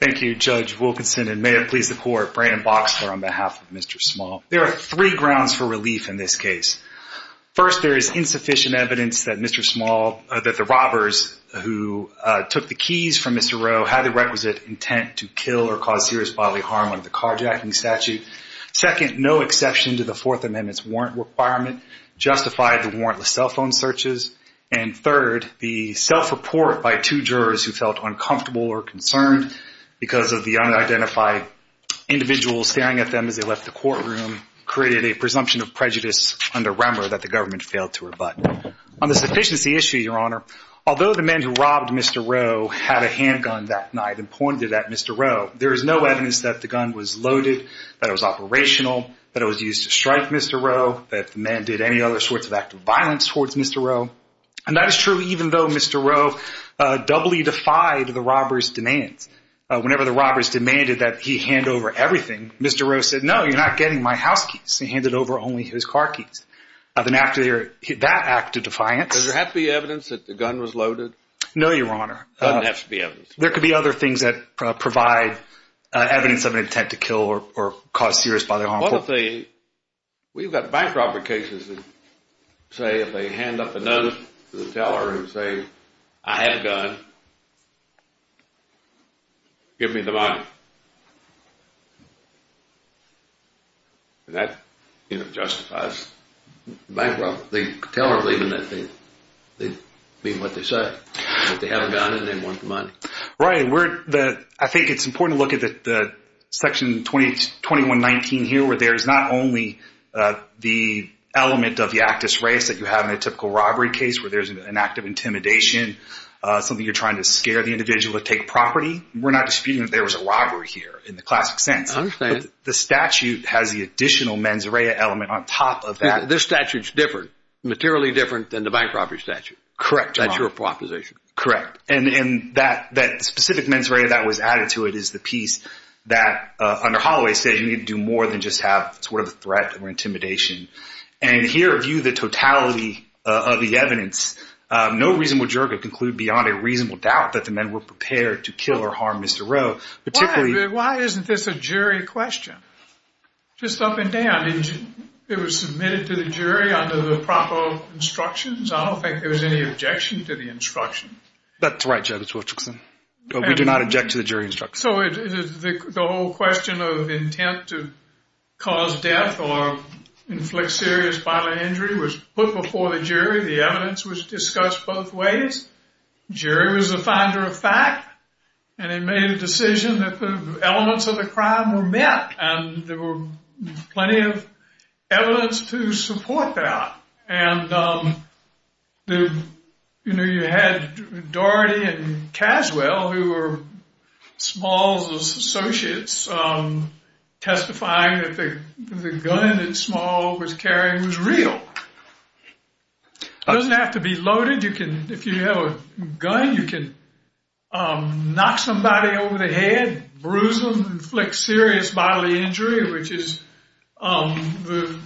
Thank you Judge Wilkinson and may it please the court, Brandon Boxler on behalf of Mr. Small. There are three grounds for relief in this case. First, there is insufficient evidence that Mr. Small, that the robbers who took the keys from Mr. Rowe had the requisite intent to kill or cause serious bodily harm under the carjacking statute. Second, no exception to the Fourth Amendment's warrant requirement justified the warrantless cell phone searches. And third, the self-report by two jurors who felt uncomfortable or concerned because of the unidentified individual staring at them as they left the courtroom created a presumption of prejudice under Remmer that the government failed to rebut. On the sufficiency issue, Your Honor, although the man who robbed Mr. Rowe had a handgun that night and pointed at Mr. Rowe, there is no evidence that the gun was loaded, that it was operational, that it was used to strike Mr. Rowe, that the man did any other sorts of act of violence towards Mr. Rowe. And that is true even though Mr. Rowe doubly defied the robbers' demands. Whenever the robbers demanded that he hand over everything, Mr. Rowe said, No, you're not getting my house keys. He handed over only his car keys. Then after that act of defiance... Does there have to be evidence that the gun was loaded? No, Your Honor. There doesn't have to be evidence. There could be other things that provide evidence of an intent to kill or cause serious bodily harm. We've got bank robber cases that say if they hand up a notice to the teller and say, I have a gun. Give me the money. And that justifies bank robbery. The teller believing that they mean what they said, that they have a gun and they want the money. Right. I think it's important to look at Section 2119 here where there's not only the element of the actus res that you have in a typical robbery case where there's an act of intimidation, something you're trying to scare the individual to take property. We're not disputing that there was a robbery here in the classic sense. I understand. The statute has the additional mens rea element on top of that. This statute's different, materially different than the bank robbery statute. Correct, Your Honor. That's your proposition. Correct. And that specific mens rea that was added to it is the piece that, under Holloway's statute, you need to do more than just have sort of a threat or intimidation. And here, view the totality of the evidence. No reasonable juror could conclude beyond a reasonable doubt that the men were prepared to kill or harm Mr. Rowe. Why isn't this a jury question? Just up and down. It was submitted to the jury under the proper instructions? I don't think there was any objection to the instruction. That's right, Judge Wilcherson. We do not object to the jury instruction. So the whole question of intent to cause death or inflict serious bodily injury was put before the jury. The evidence was discussed both ways. The jury was the finder of fact, and they made a decision that the elements of the crime were met, and there was plenty of evidence to support that. And, you know, you had Daugherty and Caswell, who were Small's associates, testifying that the gun that Small was carrying was real. It doesn't have to be loaded. If you have a gun, you can knock somebody over the head, bruise them, inflict serious bodily injury, which is the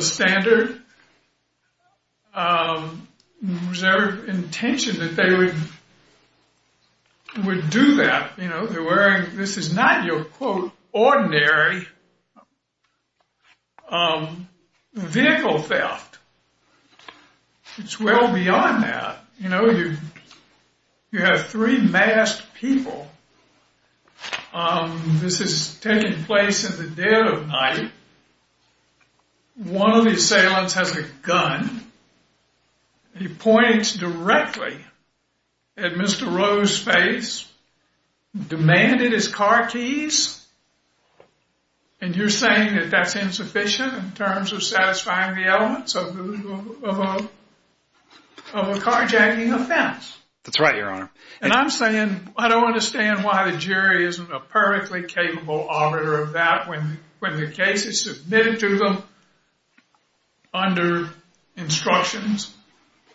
standard. Was there intention that they would do that? You know, this is not your, quote, ordinary vehicle theft. It's well beyond that. You know, you have three masked people. This is taking place in the dead of night. One of the assailants has a gun. He points directly at Mr. Rowe's face, demanded his car keys, and you're saying that that's insufficient in terms of satisfying the elements of a carjacking offense. That's right, Your Honor. And I'm saying I don't understand why the jury isn't a perfectly capable auditor of that when the case is submitted to them under instructions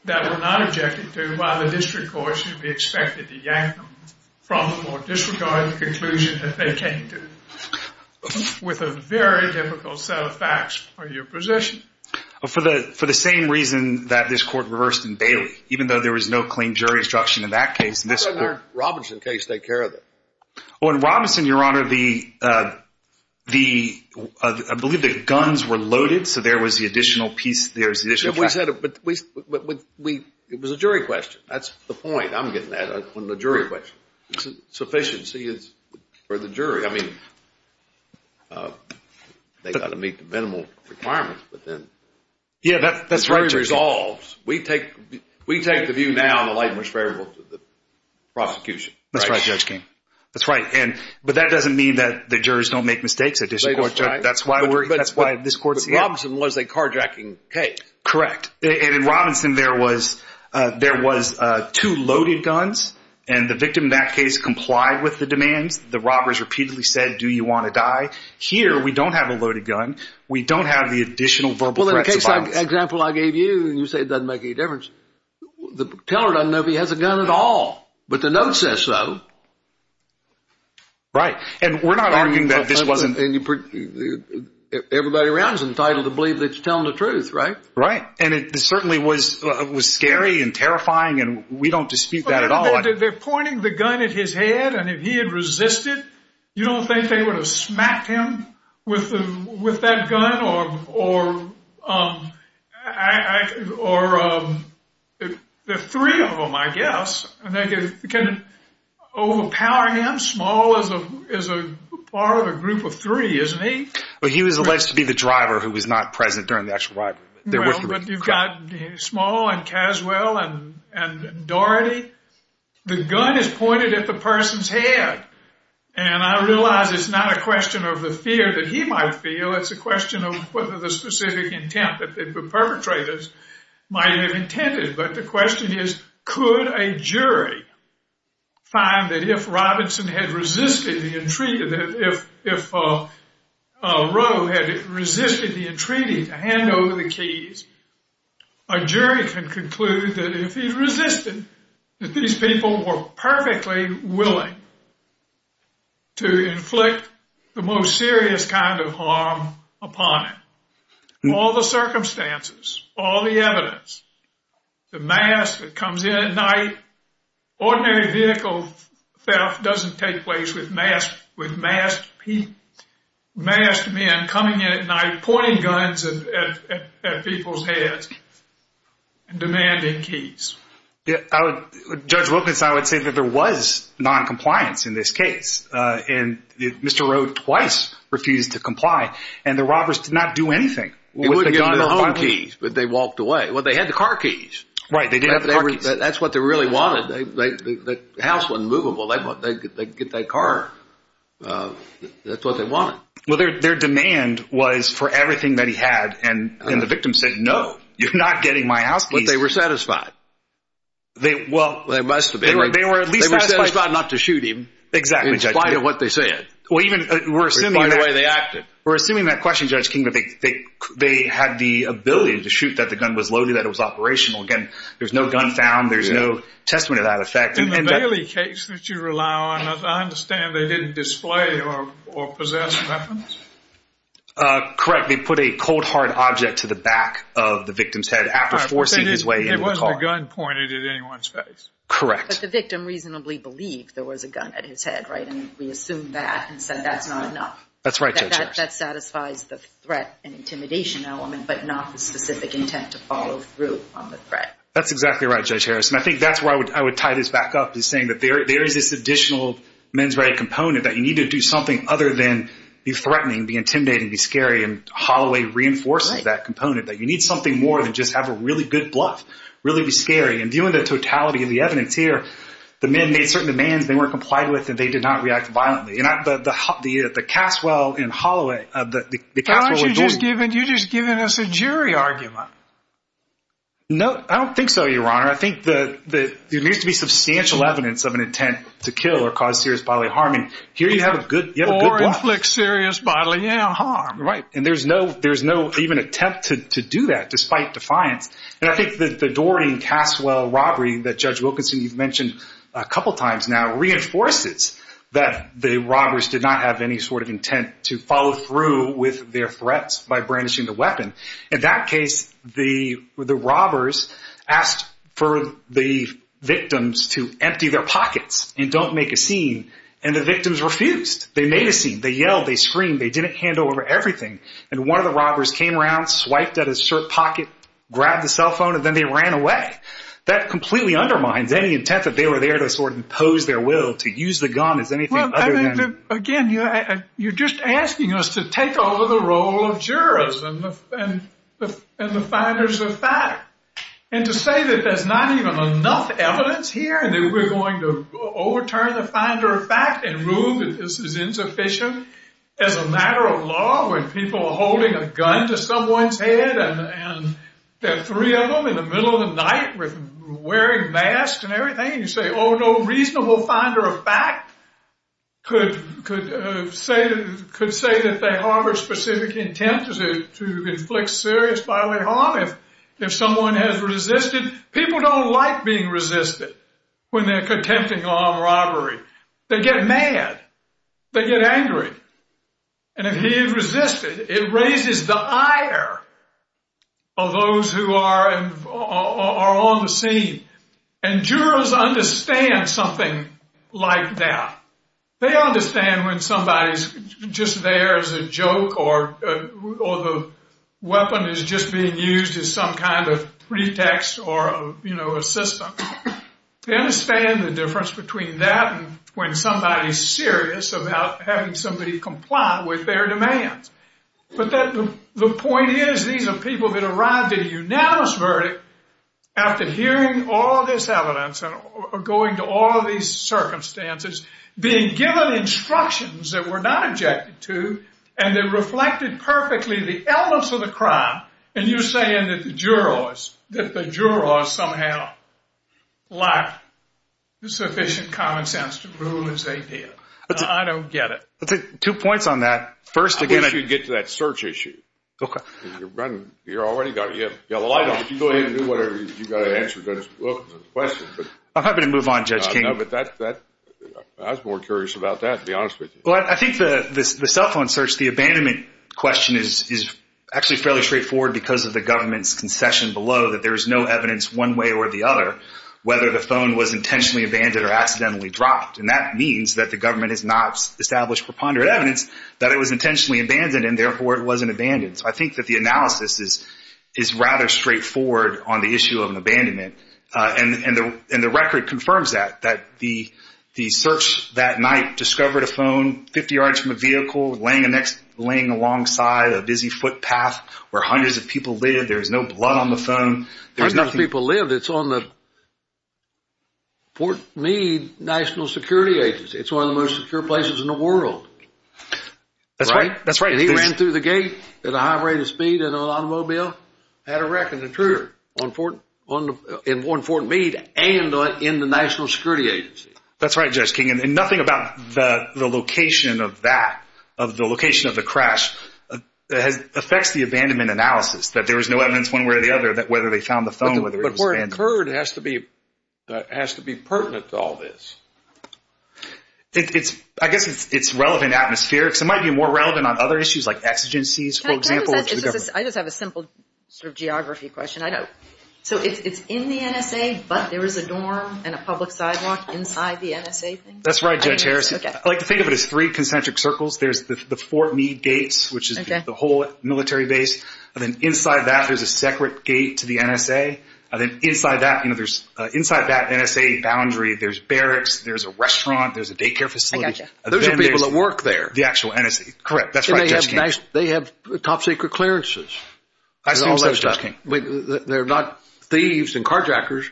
that were not objected to while the district court should be expected to yank them from the court disregarding the conclusion that they came to with a very difficult set of facts for your position. For the same reason that this court reversed in Bailey, even though there was no clean jury instruction in that case, this court— How did the Robinson case take care of that? Oh, in Robinson, Your Honor, the—I believe the guns were loaded, so there was the additional piece— It was a jury question. That's the point I'm getting at on the jury question. Sufficiency is for the jury. I mean, they've got to meet the minimal requirements, but then— Yeah, that's right, Judge King. The jury resolves. We take the view now in the light of which variables of the prosecution. That's right, Judge King. That's right. But that doesn't mean that the jurors don't make mistakes at district court. That's why this court— But Robinson was a carjacking case. Correct. And in Robinson, there was two loaded guns, and the victim in that case complied with the demands. The robbers repeatedly said, do you want to die? Here, we don't have a loaded gun. We don't have the additional verbal threats of violence. Well, in the case example I gave you, you say it doesn't make any difference. The teller doesn't know if he has a gun at all, but the note says so. Right. And we're not arguing that this wasn't— Everybody around is entitled to believe that you're telling the truth, right? Right. And it certainly was scary and terrifying, and we don't dispute that at all. But they're pointing the gun at his head, and if he had resisted, you don't think they would have smacked him with that gun? Or the three of them, I guess, can overpower him, small as a part of a group of three, isn't he? But he was alleged to be the driver who was not present during the actual robbery. Well, but you've got Small and Caswell and Doherty. The gun is pointed at the person's head, and I realize it's not a question of the fear that he might feel. It's a question of whether the specific intent that the perpetrators might have intended. But the question is, could a jury find that if Robinson had resisted, if Rowe had resisted the entreaty to hand over the keys, a jury can conclude that if he resisted, that these people were perfectly willing to inflict the most serious kind of harm upon him. All the circumstances, all the evidence, the mask that comes in at night, ordinary vehicle theft doesn't take place with masked men coming in at night, pointing guns at people's heads and demanding keys. Judge Wilkins, I would say that there was noncompliance in this case, and Mr. Rowe twice refused to comply, and the robbers did not do anything. They wouldn't have gotten their own keys, but they walked away. Well, they had the car keys. Right. They did have the car keys. That's what they really wanted. The house wasn't movable. They could get that car. That's what they wanted. Well, their demand was for everything that he had, and the victim said no. You're not getting my house keys. But they were satisfied. Well, they must have been. They were at least satisfied not to shoot him. Exactly, Judge King. In spite of what they said. In spite of the way they acted. We're assuming that question, Judge King, they had the ability to shoot, that the gun was loaded, that it was operational. Again, there's no gun found. There's no testament to that effect. In the Bailey case that you rely on, I understand they didn't display or possess weapons. Correct. They put a cold, hard object to the back of the victim's head after forcing his way into the car. It wasn't a gun pointed at anyone's face. Correct. But the victim reasonably believed there was a gun at his head, right? And we assume that and said that's not enough. That's right, Judge. That satisfies the threat and intimidation element, but not the specific intent to follow through on the threat. That's exactly right, Judge Harris. And I think that's where I would tie this back up is saying that there is this additional men's right component that you need to do something other than be threatening, be intimidating, be scary. And Holloway reinforces that component. That you need something more than just have a really good bluff. Really be scary. And viewing the totality of the evidence here, the men made certain demands they weren't complied with and they did not react violently. The Caswell and Holloway. Aren't you just giving us a jury argument? No, I don't think so, Your Honor. I think there needs to be substantial evidence of an intent to kill or cause serious bodily harm. And here you have a good bluff. Or inflict serious bodily harm. Right. And there's no even attempt to do that despite defiance. And I think that the Doherty and Caswell robbery that Judge Wilkinson, you've mentioned a couple times now, the robbers did not have any sort of intent to follow through with their threats by brandishing the weapon. In that case, the robbers asked for the victims to empty their pockets and don't make a scene. And the victims refused. They made a scene. They yelled. They screamed. They didn't handle everything. And one of the robbers came around, swiped at his shirt pocket, grabbed the cell phone, and then they ran away. That completely undermines any intent that they were there to sort of impose their will to use the gun as anything other than. Again, you're just asking us to take over the role of jurors and the finders of fact. And to say that there's not even enough evidence here and that we're going to overturn the finder of fact and rule that this is insufficient as a matter of law when people are holding a gun to someone's head and there are three of them in the middle of the night wearing masks and everything, and you say, oh, no reasonable finder of fact could say that they harbored specific intent to inflict serious bodily harm if someone has resisted. People don't like being resisted when they're contempting armed robbery. They get mad. They get angry. And if he had resisted, it raises the ire of those who are on the scene. And jurors understand something like that. They understand when somebody's just there as a joke or the weapon is just being used as some kind of pretext or, you know, a system. They understand the difference between that and when somebody's serious about having somebody comply with their demands. But the point is these are people that arrived at a unanimous verdict after hearing all this evidence and going to all of these circumstances, being given instructions that were not objected to, and that reflected perfectly the elements of the crime. And you're saying that the jurors, that the jurors somehow lacked the sufficient common sense to rule as they did. I don't get it. Two points on that. First, again, I wish you'd get to that search issue. Okay. You're already got it. You have the light on. If you go ahead and do whatever it is you've got to answer the question. I'm happy to move on, Judge King. I was more curious about that, to be honest with you. Well, I think the cell phone search, the abandonment question is actually fairly straightforward because of the government's concession below that there is no evidence one way or the other whether the phone was intentionally abandoned or accidentally dropped. And that means that the government has not established preponderant evidence that it was intentionally abandoned and, therefore, it wasn't abandoned. So I think that the analysis is rather straightforward on the issue of an abandonment. And the record confirms that, that the search that night discovered a phone 50 yards from a vehicle laying alongside a busy footpath where hundreds of people lived. There was no blood on the phone. Hundreds of people lived. It's on the Fort Meade National Security Agency. It's one of the most secure places in the world. That's right. That's right. And he ran through the gate at a high rate of speed in an automobile. Had a wreck, an intruder in Fort Meade and in the National Security Agency. That's right, Judge King. And nothing about the location of that, of the location of the crash, affects the abandonment analysis, that there was no evidence one way or the other whether they found the phone, whether it was abandoned. But where it occurred has to be pertinent to all this. I guess it's relevant atmospherically. It might be more relevant on other issues like exigencies, for example, to the government. I just have a simple sort of geography question. I don't. So it's in the NSA, but there is a dorm and a public sidewalk inside the NSA? That's right, Judge Harris. Okay. I like to think of it as three concentric circles. There's the Fort Meade gates, which is the whole military base, and then inside that there's a separate gate to the NSA. And then inside that, you know, there's inside that NSA boundary there's barracks, there's a restaurant, there's a daycare facility. I got you. Those are people that work there. The actual NSA. Correct. That's right, Judge King. They have top secret clearances. I assume so, Judge King. They're not thieves and carjackers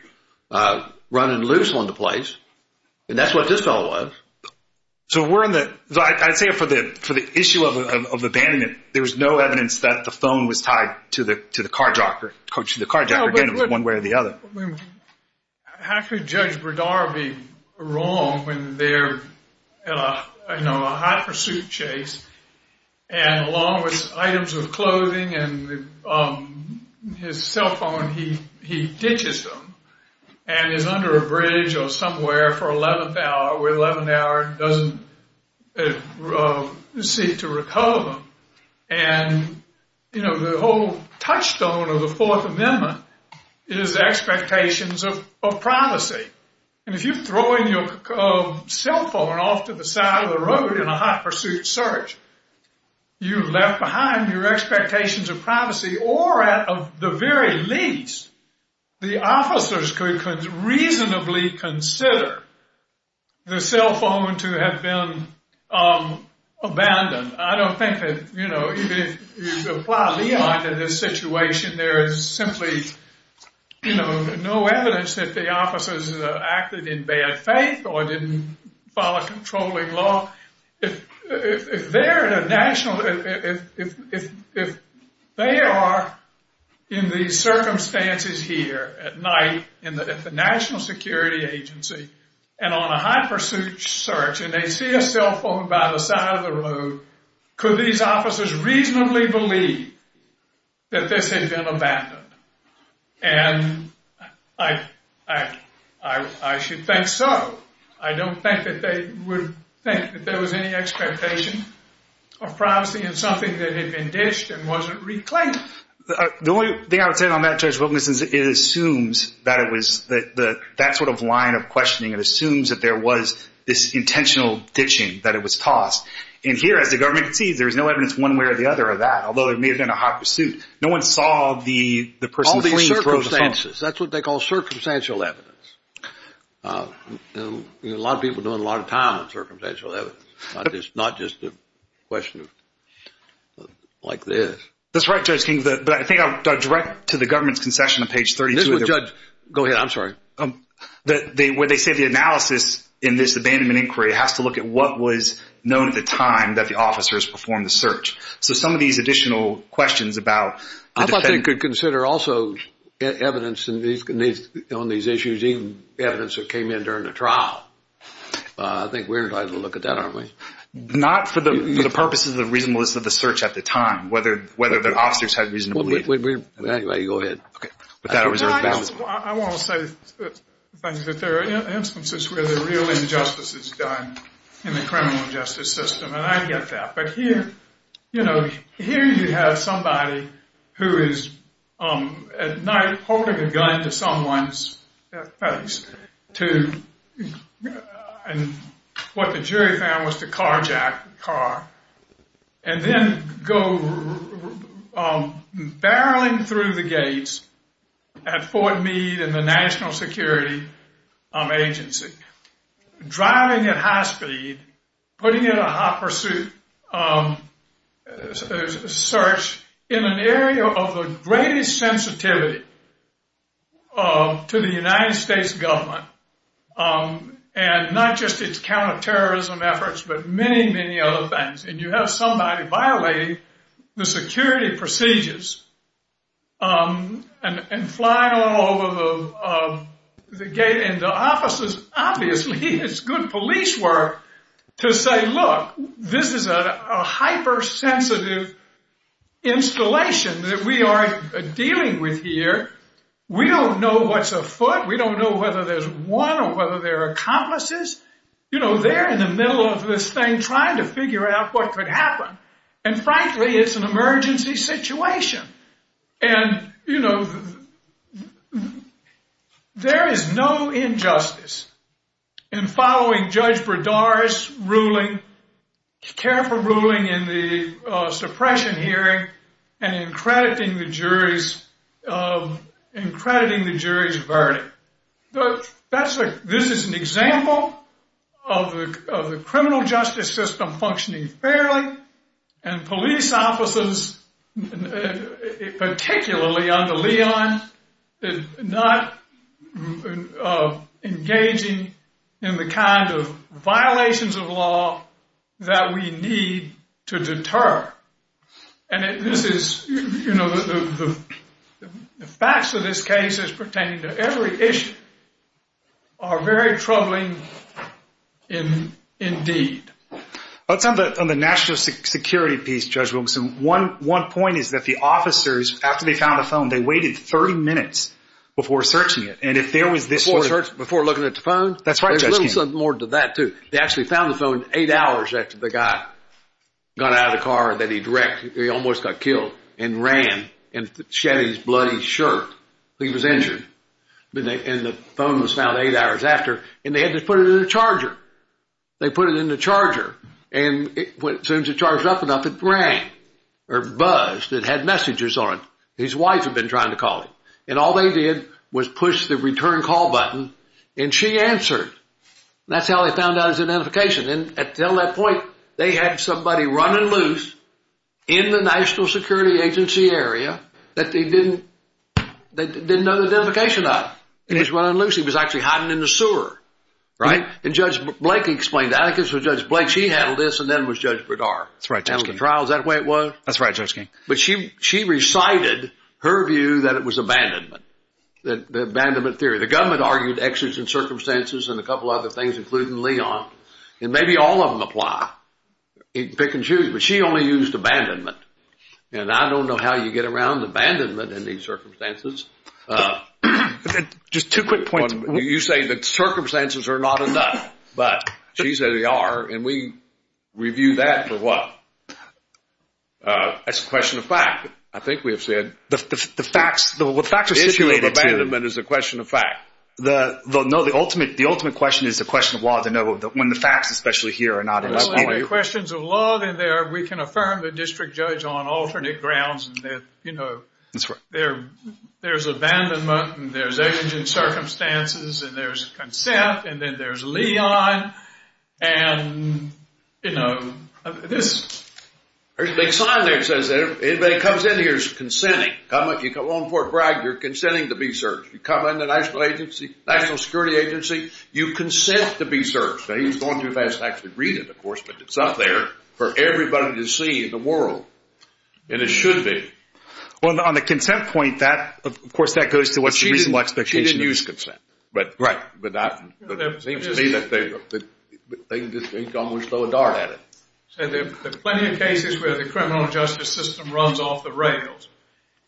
running loose on the place. And that's what this fellow was. So I'd say for the issue of abandonment, there was no evidence that the phone was tied to the carjacker, one way or the other. How could Judge Berdara be wrong when they're in a high-pursuit chase, and along with items of clothing and his cell phone, he ditches them and is under a bridge or somewhere for 11th hour, where 11th hour doesn't seek to recover them. And, you know, the whole touchstone of the Fourth Amendment is expectations of privacy. And if you're throwing your cell phone off to the side of the road in a high-pursuit search, you left behind your expectations of privacy, or at the very least, the officers could reasonably consider the cell phone to have been abandoned. I don't think that, you know, even if you apply Leon to this situation, there is simply, you know, no evidence that the officers acted in bad faith or didn't follow controlling law. If they're in a national—if they are in these circumstances here at night at the National Security Agency and on a high-pursuit search, and they see a cell phone by the side of the road, could these officers reasonably believe that this had been abandoned? And I should think so. I don't think that they would think that there was any expectation of privacy in something that had been ditched and wasn't reclaimed. The only thing I would say on that, Judge Wilkinson, is it assumes that it was— that it was tossed. And here, as the government concedes, there is no evidence one way or the other of that, although it may have been a high-pursuit. No one saw the person clean throw the phone. All these circumstances. That's what they call circumstantial evidence. A lot of people are doing a lot of time on circumstantial evidence, not just a question like this. That's right, Judge King. But I think I'll direct to the government's concession on page 32. Go ahead. I'm sorry. Where they say the analysis in this abandonment inquiry has to look at what was known at the time that the officers performed the search. So some of these additional questions about— I thought they could consider also evidence on these issues, even evidence that came in during the trial. I think we're entitled to look at that, aren't we? Not for the purposes of the reasonableness of the search at the time, whether the officers had reasonably— Anyway, go ahead. I want to say that there are instances where there are real injustices done in the criminal justice system, and I get that. But here, you know, here you have somebody who is at night holding a gun to someone's face to what the jury found was to carjack the car and then go barreling through the gates at Fort Meade and the National Security Agency, driving at high speed, putting in a hot pursuit, a search in an area of the greatest sensitivity to the United States government, and not just its counterterrorism efforts, but many, many other things. And you have somebody violating the security procedures and flying all over the gate. And the officers, obviously, it's good police work to say, look, this is a hypersensitive installation that we are dealing with here. We don't know what's afoot. We don't know whether there's one or whether there are accomplices. You know, they're in the middle of this thing trying to figure out what could happen. And frankly, it's an emergency situation. And, you know, there is no injustice in following Judge Bredar's ruling, careful ruling in the suppression hearing and in crediting the jury's verdict. This is an example of the criminal justice system functioning fairly and police officers, particularly under Leon, not engaging in the kind of violations of law that we need to deter. And this is, you know, the facts of this case is pertaining to every issue are very troubling indeed. Let's end on the national security piece, Judge Wilkinson. One point is that the officers, after they found the phone, they waited 30 minutes before searching it. And if there was this sort of – Before looking at the phone? That's right, Judge King. There's a little something more to that, too. They actually found the phone eight hours after the guy got out of the car that he wrecked. He almost got killed and ran and shed his bloody shirt. He was injured. And the phone was found eight hours after. And they had to put it in the charger. They put it in the charger. And as soon as it charged up enough, it rang or buzzed. It had messages on it. His wife had been trying to call him. And all they did was push the return call button, and she answered. That's how they found out his identification. And until that point, they had somebody running loose in the National Security Agency area that they didn't know the identification of. He was running loose. He was actually hiding in the sewer. And Judge Blake explained that. I think it was Judge Blake. She handled this, and then it was Judge Bredar. That's right, Judge King. Handled the trials that way it was. That's right, Judge King. But she recited her view that it was abandonment, the abandonment theory. The government argued exodus in circumstances and a couple other things, including Leon. And maybe all of them apply. You can pick and choose. But she only used abandonment. And I don't know how you get around abandonment in these circumstances. Just two quick points. You say that circumstances are not enough. But she said they are, and we review that for what? That's a question of fact. I think we have said. The issue of abandonment is a question of fact. No, the ultimate question is a question of law. When the facts, especially here, are not in this area. Well, there are questions of law in there. We can affirm the district judge on alternate grounds. There's abandonment, and there's exodus in circumstances, and there's consent, and then there's Leon. There's a big sign there that says anybody that comes in here is consenting. You come on Fort Bragg, you're consenting to be searched. You come in the national security agency, you consent to be searched. Now, he's going too fast to actually read it, of course, but it's up there for everybody to see in the world. And it should be. Well, on the consent point, of course, that goes to what's the reasonable expectation. She didn't use consent. Right. It seems to me that they can just think almost throw a dart at it. There are plenty of cases where the criminal justice system runs off the rails.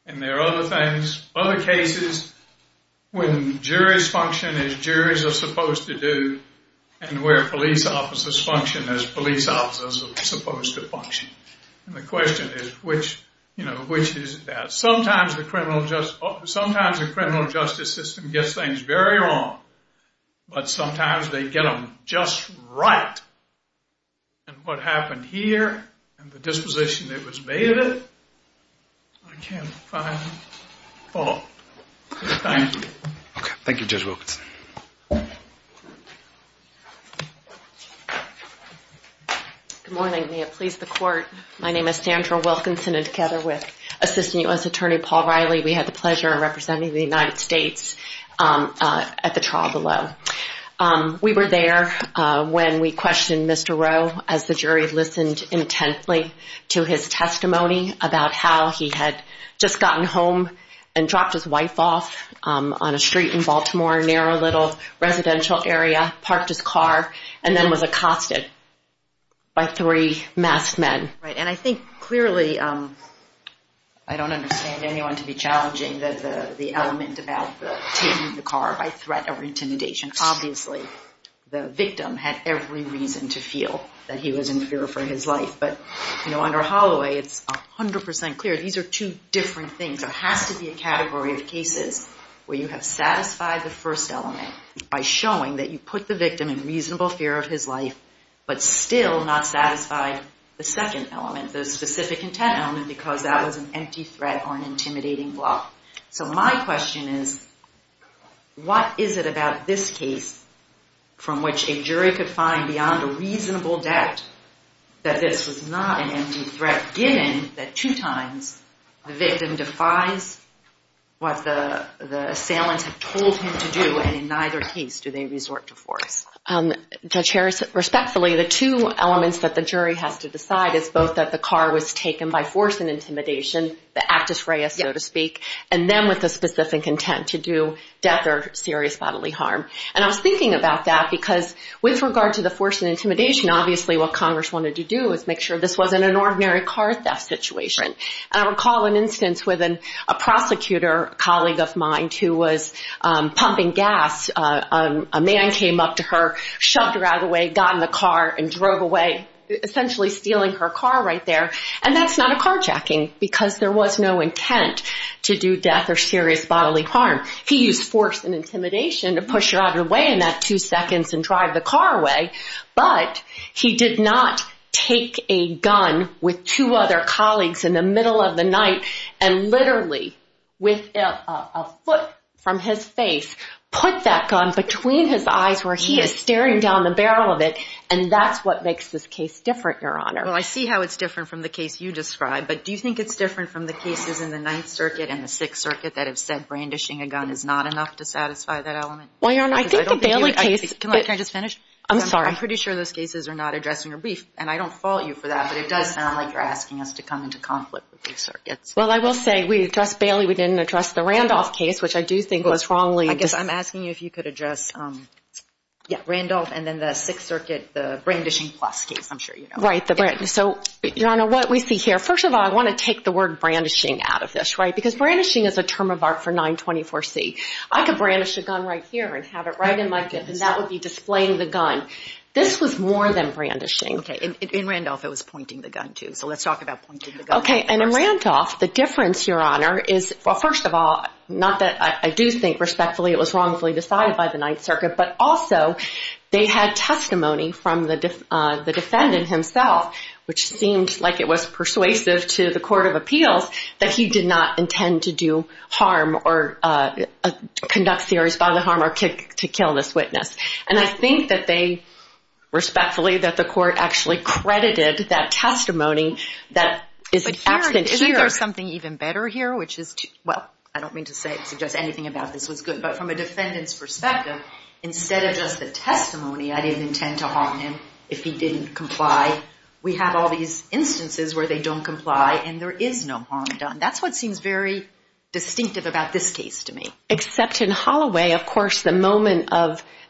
And there are other things, other cases, when juries function as juries are supposed to do and where police officers function as police officers are supposed to function. And the question is, which is that? Sometimes the criminal justice system gets things very wrong, but sometimes they get them just right. And what happened here and the disposition that was made of it, I can't find fault. Thank you. Okay. Thank you, Judge Wilkinson. Good morning. May it please the court, my name is Sandra Wilkinson, and together with Assistant U.S. Attorney Paul Riley, we had the pleasure of representing the United States at the trial below. We were there when we questioned Mr. Rowe as the jury listened intently to his testimony about how he had just gotten home and dropped his wife off on a street in Baltimore, a narrow little residential area, parked his car, and then was accosted by three masked men. Right. And I think clearly I don't understand anyone to be challenging the element about taking the car by threat or intimidation. Obviously the victim had every reason to feel that he was in fear for his life, but under Holloway it's 100% clear these are two different things. There has to be a category of cases where you have satisfied the first element by showing that you put the victim in reasonable fear of his life, but still not satisfied the second element, the specific intent element, because that was an empty threat or an intimidating bluff. So my question is what is it about this case from which a jury could find beyond a reasonable doubt that this was not an empty threat given that two times the victim defies what the assailants have told him to do Judge Harris, respectfully, the two elements that the jury has to decide is both that the car was taken by force and intimidation, the actus reus, so to speak, and then with the specific intent to do death or serious bodily harm. And I was thinking about that because with regard to the force and intimidation, obviously what Congress wanted to do was make sure this wasn't an ordinary car theft situation. And I recall an instance with a prosecutor colleague of mine who was pumping gas. A man came up to her, shoved her out of the way, got in the car and drove away, essentially stealing her car right there. And that's not a carjacking because there was no intent to do death or serious bodily harm. He used force and intimidation to push her out of the way in that two seconds and drive the car away. But he did not take a gun with two other colleagues in the middle of the night and literally with a foot from his face put that gun between his eyes where he is staring down the barrel of it. And that's what makes this case different, Your Honor. Well, I see how it's different from the case you described. But do you think it's different from the cases in the Ninth Circuit and the Sixth Circuit that have said brandishing a gun is not enough to satisfy that element? Well, Your Honor, I think the Bailey case... Can I just finish? I'm sorry. I'm pretty sure those cases are not addressing your brief. And I don't fault you for that. But it does sound like you're asking us to come into conflict with these circuits. Well, I will say we addressed Bailey. We didn't address the Randolph case, which I do think was wrongly... I guess I'm asking you if you could address Randolph and then the Sixth Circuit, the brandishing-plus case, I'm sure you know. Right. So, Your Honor, what we see here... First of all, I want to take the word brandishing out of this, right? Because brandishing is a term of art for 924C. I could brandish a gun right here and have it right in my fist, and that would be displaying the gun. This was more than brandishing. Okay. In Randolph, it was pointing the gun, too. So let's talk about pointing the gun. Okay. And in Randolph, the difference, Your Honor, is... Well, first of all, not that I do think respectfully it was wrongfully decided by the Ninth Circuit, but also they had testimony from the defendant himself, which seemed like it was persuasive to the court of appeals that he did not intend to do harm or conduct serious bodily harm or to kill this witness. And I think that they, respectfully, that the court actually credited that testimony that is absent here. But here, isn't there something even better here, which is to... Well, I don't mean to suggest anything about this was good, but from a defendant's perspective, instead of just the testimony, I didn't intend to harm him if he didn't comply, we have all these instances where they don't comply and there is no harm done. That's what seems very distinctive about this case to me. Except in Holloway, of course, the moment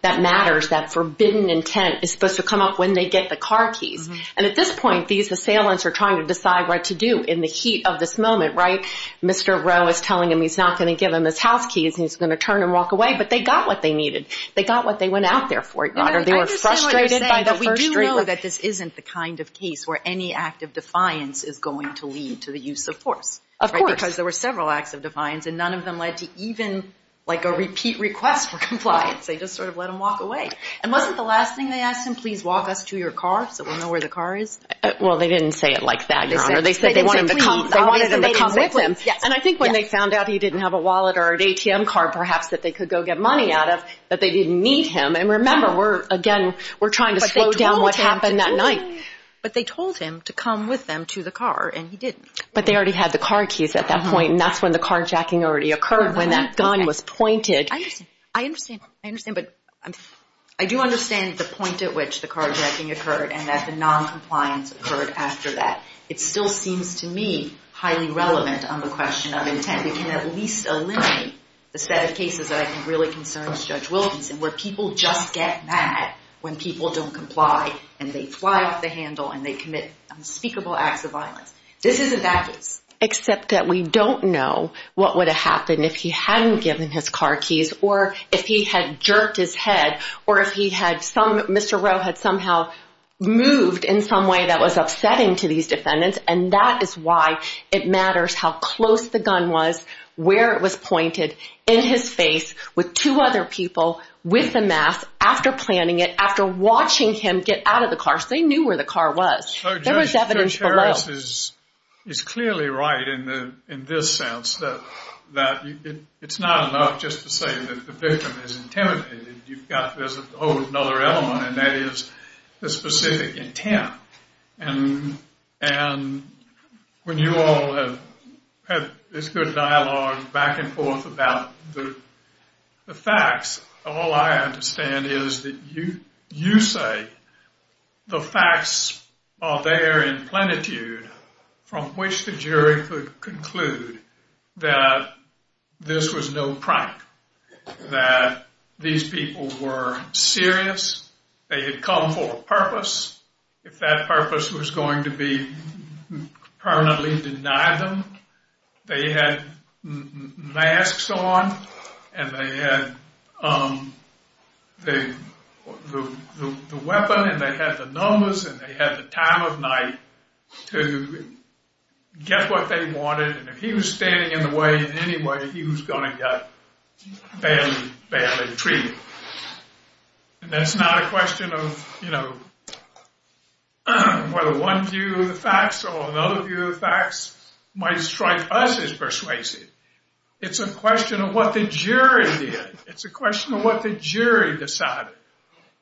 that matters, that forbidden intent, is supposed to come up when they get the car keys. And at this point, these assailants are trying to decide what to do in the heat of this moment, right? Mr. Rowe is telling him he's not going to give him his house keys and he's going to turn and walk away, but they got what they needed. They got what they went out there for, Your Honor. They were frustrated by the first... We do know that this isn't the kind of case where any act of defiance is going to lead to the use of force. Of course. Because there were several acts of defiance and none of them led to even, like, a repeat request for compliance. They just sort of let him walk away. And wasn't the last thing they asked him, please walk us to your car so we'll know where the car is? Well, they didn't say it like that, Your Honor. They said they wanted him to come with them. And I think when they found out he didn't have a wallet or an ATM card, perhaps, that they could go get money out of, that they didn't need him. And remember, again, we're trying to slow down what happened that night. But they told him to come with them to the car and he didn't. But they already had the car keys at that point, and that's when the carjacking already occurred when that gun was pointed. I understand. I understand. I understand, but... I do understand the point at which the carjacking occurred and that the noncompliance occurred after that. It still seems to me highly relevant on the question of intent. We can at least eliminate the set of cases that I think really concerns Judge Wilkinson where people just get mad when people don't comply and they fly off the handle and they commit unspeakable acts of violence. This isn't that case. Except that we don't know what would have happened if he hadn't given his car keys or if he had jerked his head or if he had some... Mr. Rowe had somehow moved in some way that was upsetting to these defendants, and that is why it matters how close the gun was, where it was pointed, in his face, with two other people, with the mask, after planning it, after watching him get out of the car, so they knew where the car was. There was evidence below. Judge Harris is clearly right in this sense that it's not enough just to say that the victim is intimidated. There's a whole other element, and that is the specific intent. And when you all have had this good dialogue back and forth about the facts, all I understand is that you say the facts are there in plenitude from which the jury could conclude that this was no prank, that these people were serious, they had come for a purpose. If that purpose was going to be permanently denied them, they had masks on, and they had the weapon, and they had the numbers, and they had the time of night to get what they wanted, and if he was standing in the way in any way, he was going to get badly treated. And that's not a question of, you know, whether one view of the facts or another view of the facts might strike us as persuasive. It's a question of what the jury did. It's a question of what the jury decided.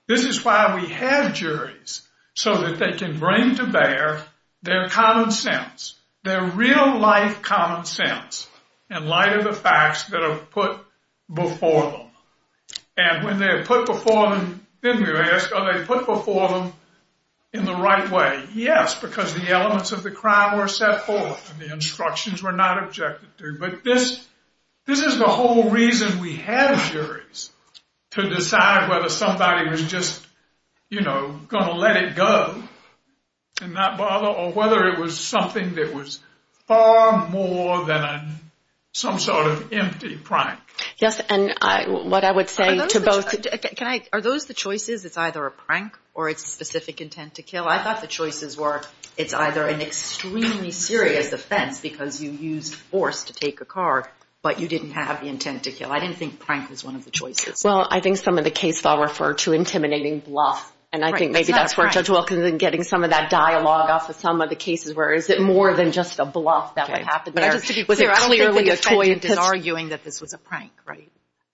This is why we have juries, so that they can bring to bear their common sense, their real-life common sense in light of the facts that are put before them. And when they're put before them, then we ask, are they put before them in the right way? Yes, because the elements of the crime were set forth, and the instructions were not objected to. But this is the whole reason we have juries, to decide whether somebody was just, you know, going to let it go and not bother, or whether it was something that was far more than some sort of empty prank. Yes, and what I would say to both, are those the choices? Well, I thought the choices were it's either an extremely serious offense because you used force to take a car, but you didn't have the intent to kill. I didn't think prank was one of the choices. Well, I think some of the cases I'll refer to intimidating bluff, and I think maybe that's where Judge Wilkinson is getting some of that dialogue off of some of the cases where is it more than just a bluff that would happen there. Just to be clear, I don't think the defendant is arguing that this was a prank, right?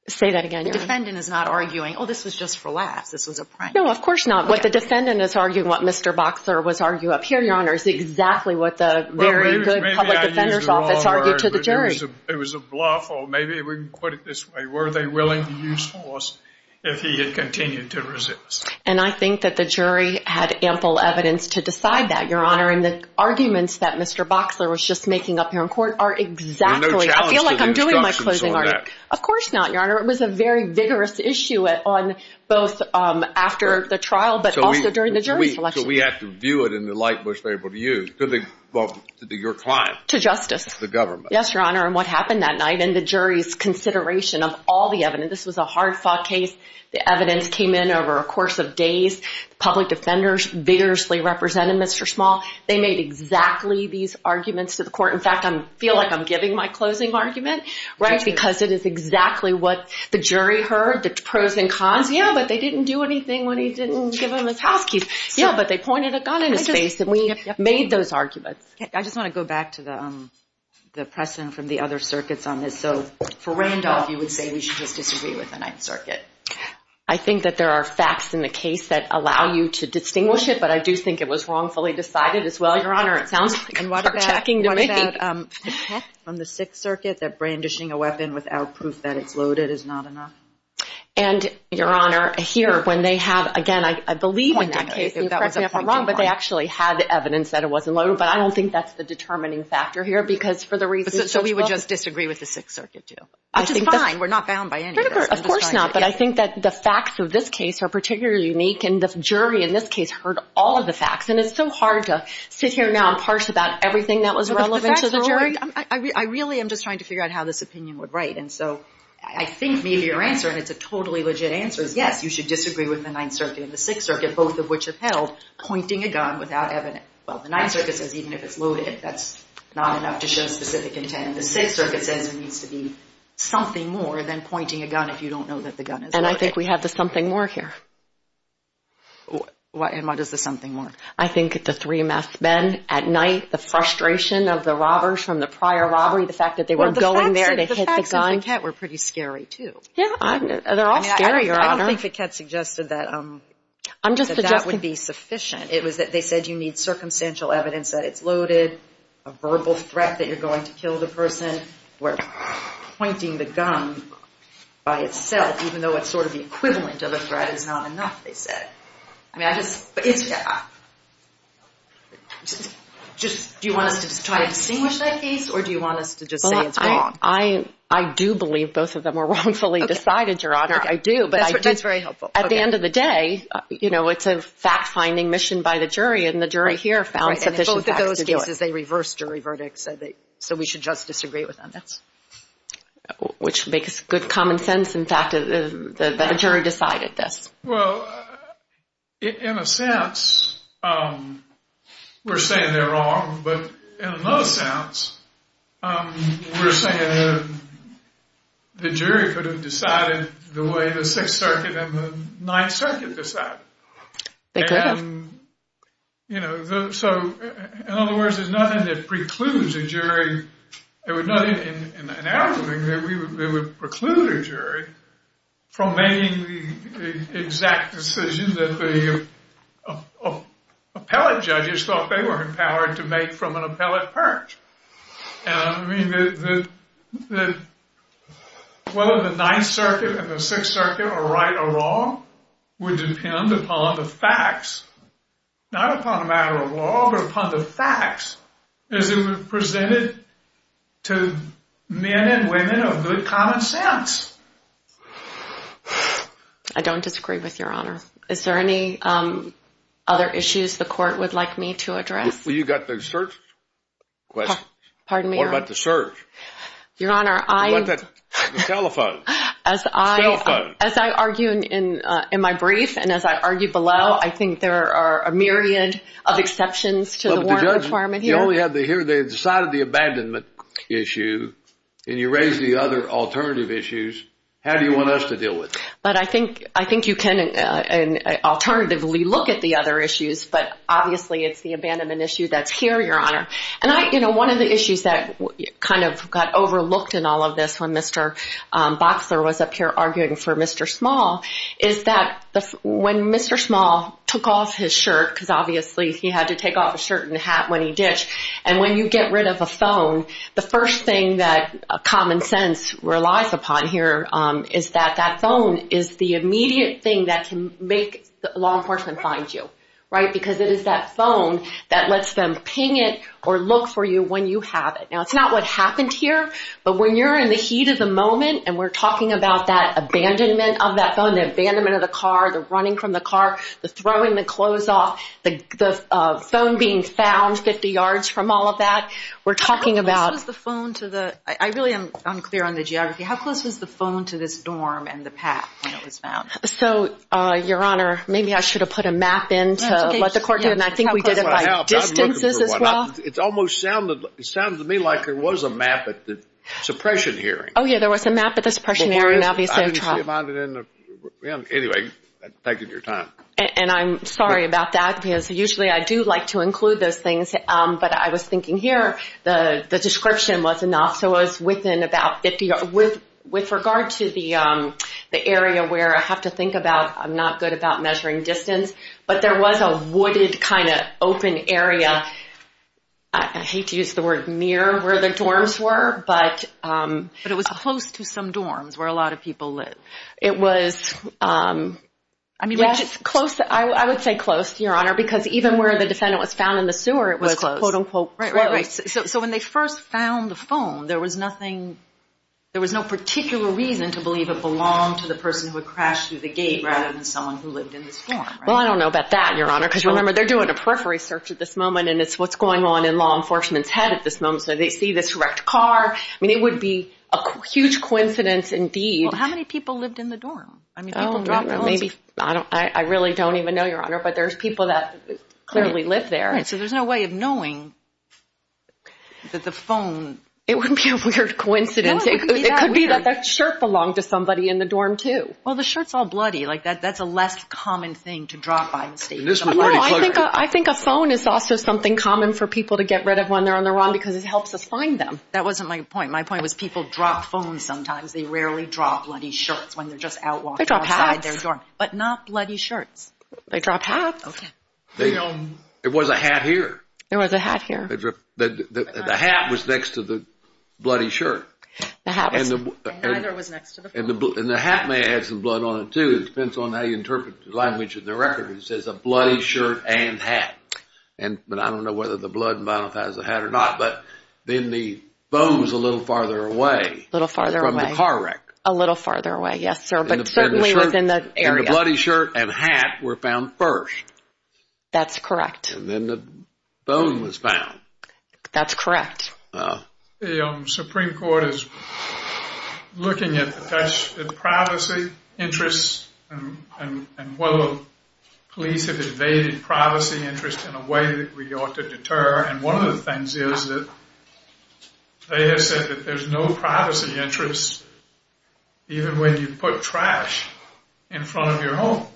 Say that again. The defendant is not arguing, oh, this was just for laughs, this was a prank. No, of course not. What the defendant is arguing, what Mr. Boxler was arguing up here, Your Honor, is exactly what the very good public defender's office argued to the jury. It was a bluff, or maybe we can put it this way, were they willing to use force if he had continued to resist? And I think that the jury had ample evidence to decide that, Your Honor, and the arguments that Mr. Boxler was just making up here in court are exactly, I feel like I'm doing my closing argument. Of course not, Your Honor. It was a very vigorous issue on both after the trial but also during the jury selection. So we have to view it in the light most favorable to you, to your client. To justice. The government. Yes, Your Honor, and what happened that night and the jury's consideration of all the evidence. This was a hard-fought case. The evidence came in over a course of days. The public defenders vigorously represented Mr. Small. They made exactly these arguments to the court. In fact, I feel like I'm giving my closing argument, right, because it is exactly what the jury heard, the pros and cons. Yeah, but they didn't do anything when he didn't give them his house keys. Yeah, but they pointed a gun in his face, and we made those arguments. I just want to go back to the precedent from the other circuits on this. So for Randolph, you would say we should just disagree with the Ninth Circuit. I think that there are facts in the case that allow you to distinguish it, but I do think it was wrongfully decided as well, Your Honor. It sounds heart-attacking to me. But from the Sixth Circuit, that brandishing a weapon without proof that it's loaded is not enough. And, Your Honor, here, when they have, again, I believe in that case, but they actually had the evidence that it wasn't loaded, but I don't think that's the determining factor here because for the reasons you spoke. So we would just disagree with the Sixth Circuit too, which is fine. We're not bound by anything. Of course not, but I think that the facts of this case are particularly unique, and the jury in this case heard all of the facts, and it's so hard to sit here now and parse about everything that was relevant to the jury. I really am just trying to figure out how this opinion would write, and so I think maybe your answer, and it's a totally legit answer, is yes, you should disagree with the Ninth Circuit and the Sixth Circuit, both of which upheld pointing a gun without evidence. Well, the Ninth Circuit says even if it's loaded, that's not enough to show specific intent. The Sixth Circuit says it needs to be something more than pointing a gun if you don't know that the gun is loaded. And I think we have the something more here. And what is the something more? I think the three masked men at night, the frustration of the robbers from the prior robbery, the fact that they were going there to hit the gun. Well, the facts in Fiquette were pretty scary too. Yeah, they're all scary, Your Honor. I don't think Fiquette suggested that that would be sufficient. It was that they said you need circumstantial evidence that it's loaded, a verbal threat that you're going to kill the person, where pointing the gun by itself, even though it's sort of the equivalent of a threat, is not enough, they said. I mean, I just, do you want us to try to distinguish that case, or do you want us to just say it's wrong? I do believe both of them were wrongfully decided, Your Honor, I do. That's very helpful. At the end of the day, you know, it's a fact-finding mission by the jury, and the jury here found sufficient facts to do it. So we should just disagree with them. Which makes good common sense, in fact, that the jury decided this. Well, in a sense, we're saying they're wrong, but in another sense, we're saying the jury could have decided the way the Sixth Circuit and the Ninth Circuit decided. They could have. You know, so, in other words, there's nothing that precludes a jury. There was nothing in our ruling that would preclude a jury from making the exact decision that the appellate judges thought they were empowered to make from an appellate perch. I mean, whether the Ninth Circuit and the Sixth Circuit are right or wrong would depend upon the facts. Not upon a matter of law, but upon the facts as it was presented to men and women of good common sense. I don't disagree with Your Honor. Is there any other issues the court would like me to address? Well, you've got the search question. Pardon me, Your Honor. What about the search? Your Honor, I— What about the telephone? As I— Cell phone. As I argue in my brief and as I argue below, I think there are a myriad of exceptions to the warrant requirement here. Well, but the judge, you only have to hear they decided the abandonment issue, and you raise the other alternative issues. How do you want us to deal with it? But I think you can alternatively look at the other issues, but obviously it's the abandonment issue that's here, Your Honor. And I—you know, one of the issues that kind of got overlooked in all of this when Mr. Boxler was up here arguing for Mr. Small is that when Mr. Small took off his shirt, because obviously he had to take off his shirt and hat when he ditched, and when you get rid of a phone, the first thing that common sense relies upon here is that that phone is the immediate thing that can make law enforcement find you, right? Because it is that phone that lets them ping it or look for you when you have it. Now, it's not what happened here, but when you're in the heat of the moment and we're talking about that abandonment of that phone, the abandonment of the car, the running from the car, the throwing the clothes off, the phone being found 50 yards from all of that, we're talking about— How close was the phone to the—I really am unclear on the geography. How close was the phone to this dorm and the path when it was found? So, Your Honor, maybe I should have put a map in to let the court know, and I think we did it by distances as well. It almost sounded to me like there was a map at the suppression hearing. Oh, yeah, there was a map at the suppression hearing, obviously. I didn't see it on the—anyway, thank you for your time. And I'm sorry about that because usually I do like to include those things, but I was thinking here the description was enough, so it was within about 50 yards. With regard to the area where I have to think about, I'm not good about measuring distance, but there was a wooded kind of open area. I hate to use the word mirror where the dorms were, but— But it was close to some dorms where a lot of people live. It was—I would say close, Your Honor, because even where the defendant was found in the sewer, it was close. Right, right, right. So when they first found the phone, there was nothing—there was no particular reason to believe it belonged to the person who had crashed through the gate rather than someone who lived in this dorm, right? Well, I don't know about that, Your Honor, because remember, they're doing a periphery search at this moment, and it's what's going on in law enforcement's head at this moment, so they see this wrecked car. I mean, it would be a huge coincidence indeed— How many people lived in the dorm? I mean, people dropped phones— I really don't even know, Your Honor, but there's people that clearly live there. Right, so there's no way of knowing that the phone— It wouldn't be a weird coincidence. It could be that that shirt belonged to somebody in the dorm, too. Well, the shirt's all bloody. Like, that's a less common thing to drop by the state. No, I think a phone is also something common for people to get rid of when they're on the run because it helps us find them. That wasn't my point. My point was people drop phones sometimes. They rarely drop bloody shirts when they're just out walking outside their dorm. They drop hats. But not bloody shirts. They drop hats. Okay. There was a hat here. There was a hat here. The hat was next to the bloody shirt. The hat was— And neither was next to the phone. And the hat may have had some blood on it, too. It depends on how you interpret the language of the record. It says a bloody shirt and hat. But I don't know whether the blood and violence has a hat or not. But then the phone was a little farther away. A little farther away. From the car wreck. A little farther away, yes, sir. But certainly within the area. And the bloody shirt and hat were found first. That's correct. And then the phone was found. That's correct. The Supreme Court is looking at privacy interests and whether police have evaded privacy interests in a way that we ought to deter. And one of the things is that they have said that there's no privacy interest even when you put trash in front of your home.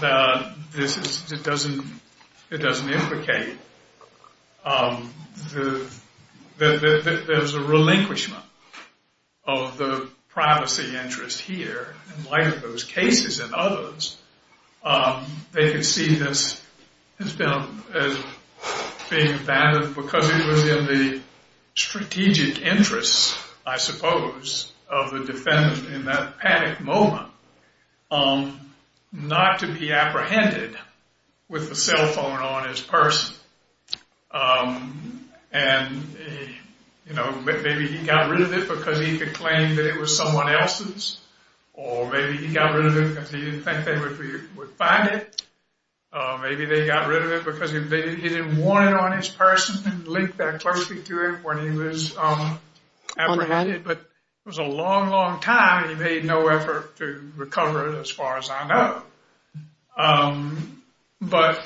It doesn't implicate that there's a relinquishment of the privacy interest here in light of those cases and others. They can see this as being abandoned because it was in the strategic interests, I suppose, of the defendant in that panic moment. Not to be apprehended with the cell phone on his purse. And, you know, maybe he got rid of it because he could claim that it was someone else's. Or maybe he got rid of it because he didn't think they would find it. Maybe they got rid of it because he didn't want it on his purse and didn't link that closely to it when he was apprehended. But it was a long, long time. He made no effort to recover it, as far as I know. But,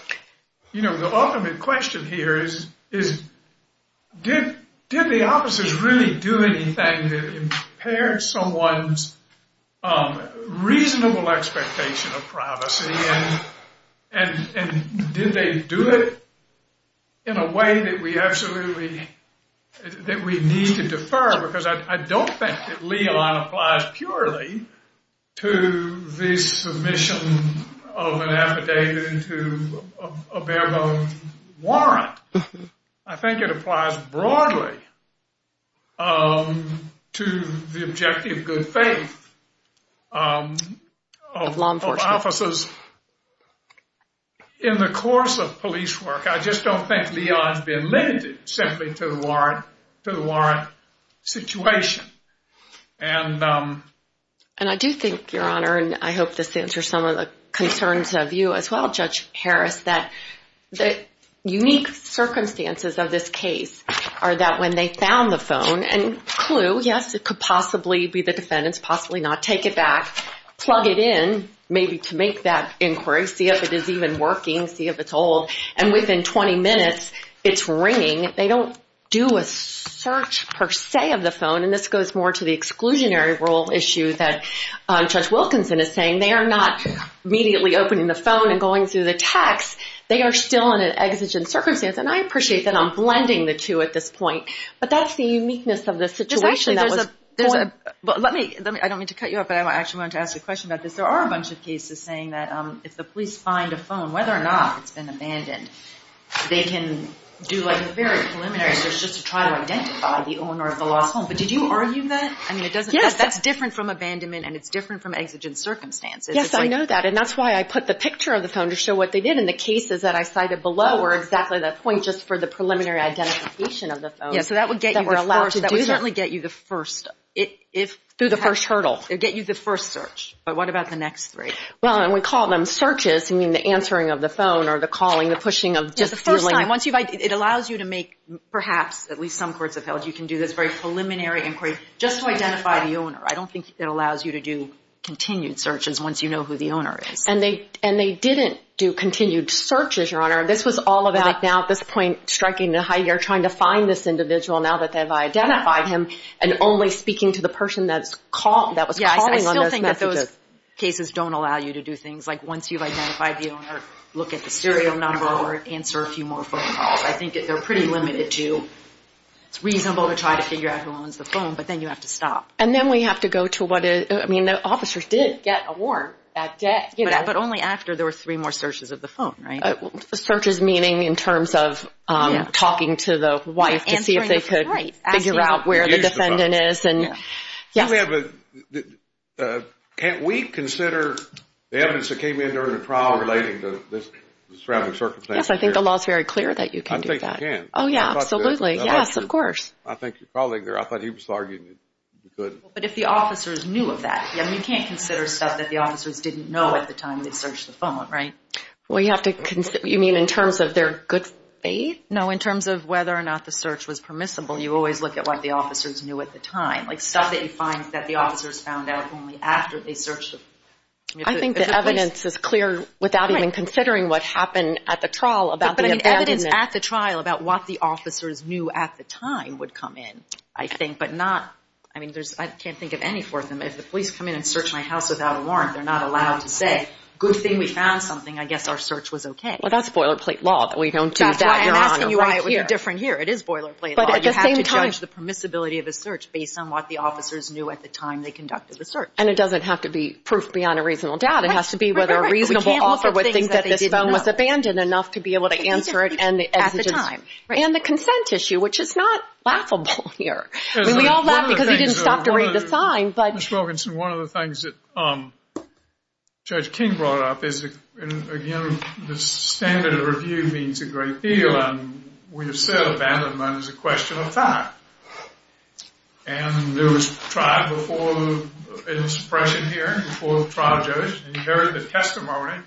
you know, the ultimate question here is, did the officers really do anything that impaired someone's reasonable expectation of privacy? And did they do it in a way that we absolutely, that we need to defer? Because I don't think that LELON applies purely to the submission of an affidavit into a bare bone warrant. I think it applies broadly to the objective good faith of officers in the course of police work. I just don't think LELON has been limited simply to the warrant situation. And I do think, Your Honor, and I hope this answers some of the concerns of you as well, Judge Harris, that the unique circumstances of this case are that when they found the phone and clue, yes, it could possibly be the defendant's, possibly not, take it back, plug it in maybe to make that inquiry, see if it is even working, see if it's old. And within 20 minutes, it's ringing. They don't do a search, per se, of the phone. And this goes more to the exclusionary rule issue that Judge Wilkinson is saying. They are not immediately opening the phone and going through the text. They are still in an exigent circumstance. And I appreciate that I'm blending the two at this point. But that's the uniqueness of the situation. There's actually, there's a, let me, I don't mean to cut you off, but I actually wanted to ask you a question about this. There are a bunch of cases saying that if the police find a phone, whether or not it's been abandoned, they can do like a very preliminary search just to try to identify the owner of the lost phone. But did you argue that? I mean, it doesn't, that's different from abandonment and it's different from exigent circumstances. Yes, I know that. And that's why I put the picture of the phone to show what they did. And the cases that I cited below were exactly that point just for the preliminary identification of the phone. Yeah, so that would get you the first, that would certainly get you the first, if. Through the first hurdle. It would get you the first search. But what about the next three? Well, and we call them searches. I mean, the answering of the phone or the calling, the pushing of. Yeah, the first time. Once you've, it allows you to make, perhaps, at least some courts have held you can do this very preliminary inquiry just to identify the owner. I don't think it allows you to do continued searches once you know who the owner is. And they, and they didn't do continued searches, Your Honor. This was all about now at this point striking the high, you're trying to find this individual now that they've identified him and only speaking to the person that's called, that was calling on those messages. I don't think that those cases don't allow you to do things like once you've identified the owner, look at the serial number or answer a few more phone calls. I think that they're pretty limited to, it's reasonable to try to figure out who owns the phone, but then you have to stop. And then we have to go to what, I mean, the officers did get a warrant that day. But only after there were three more searches of the phone, right? Searches meaning in terms of talking to the wife to see if they could figure out where the defendant is. Can't we consider the evidence that came in during the trial relating to the surrounding circumstances? Yes, I think the law is very clear that you can do that. I think you can. Oh, yeah, absolutely. Yes, of course. I think your colleague there, I thought he was arguing that you couldn't. But if the officers knew of that, you can't consider stuff that the officers didn't know at the time they searched the phone, right? Well, you have to, you mean in terms of their good faith? No, in terms of whether or not the search was permissible. You always look at what the officers knew at the time. Like stuff that you find that the officers found out only after they searched the phone. I think the evidence is clear without even considering what happened at the trial about the abandonment. But the evidence at the trial about what the officers knew at the time would come in, I think. But not, I mean, I can't think of any for them. If the police come in and search my house without a warrant, they're not allowed to say, good thing we found something. I guess our search was okay. Well, that's boilerplate law that we don't do that. That's why I'm asking you why it would be different here. It is boilerplate law. You have to judge the permissibility of a search based on what the officers knew at the time they conducted the search. And it doesn't have to be proof beyond a reasonable doubt. It has to be whether a reasonable author would think that this phone was abandoned enough to be able to answer it. At the time. And the consent issue, which is not laughable here. I mean, we all laugh because he didn't stop to read the sign. Ms. Wilkinson, one of the things that Judge King brought up is, again, the standard of review means a great deal. And we have said abandonment is a question of time. And there was trial before the expression here, before the trial judge. And he heard the testimony.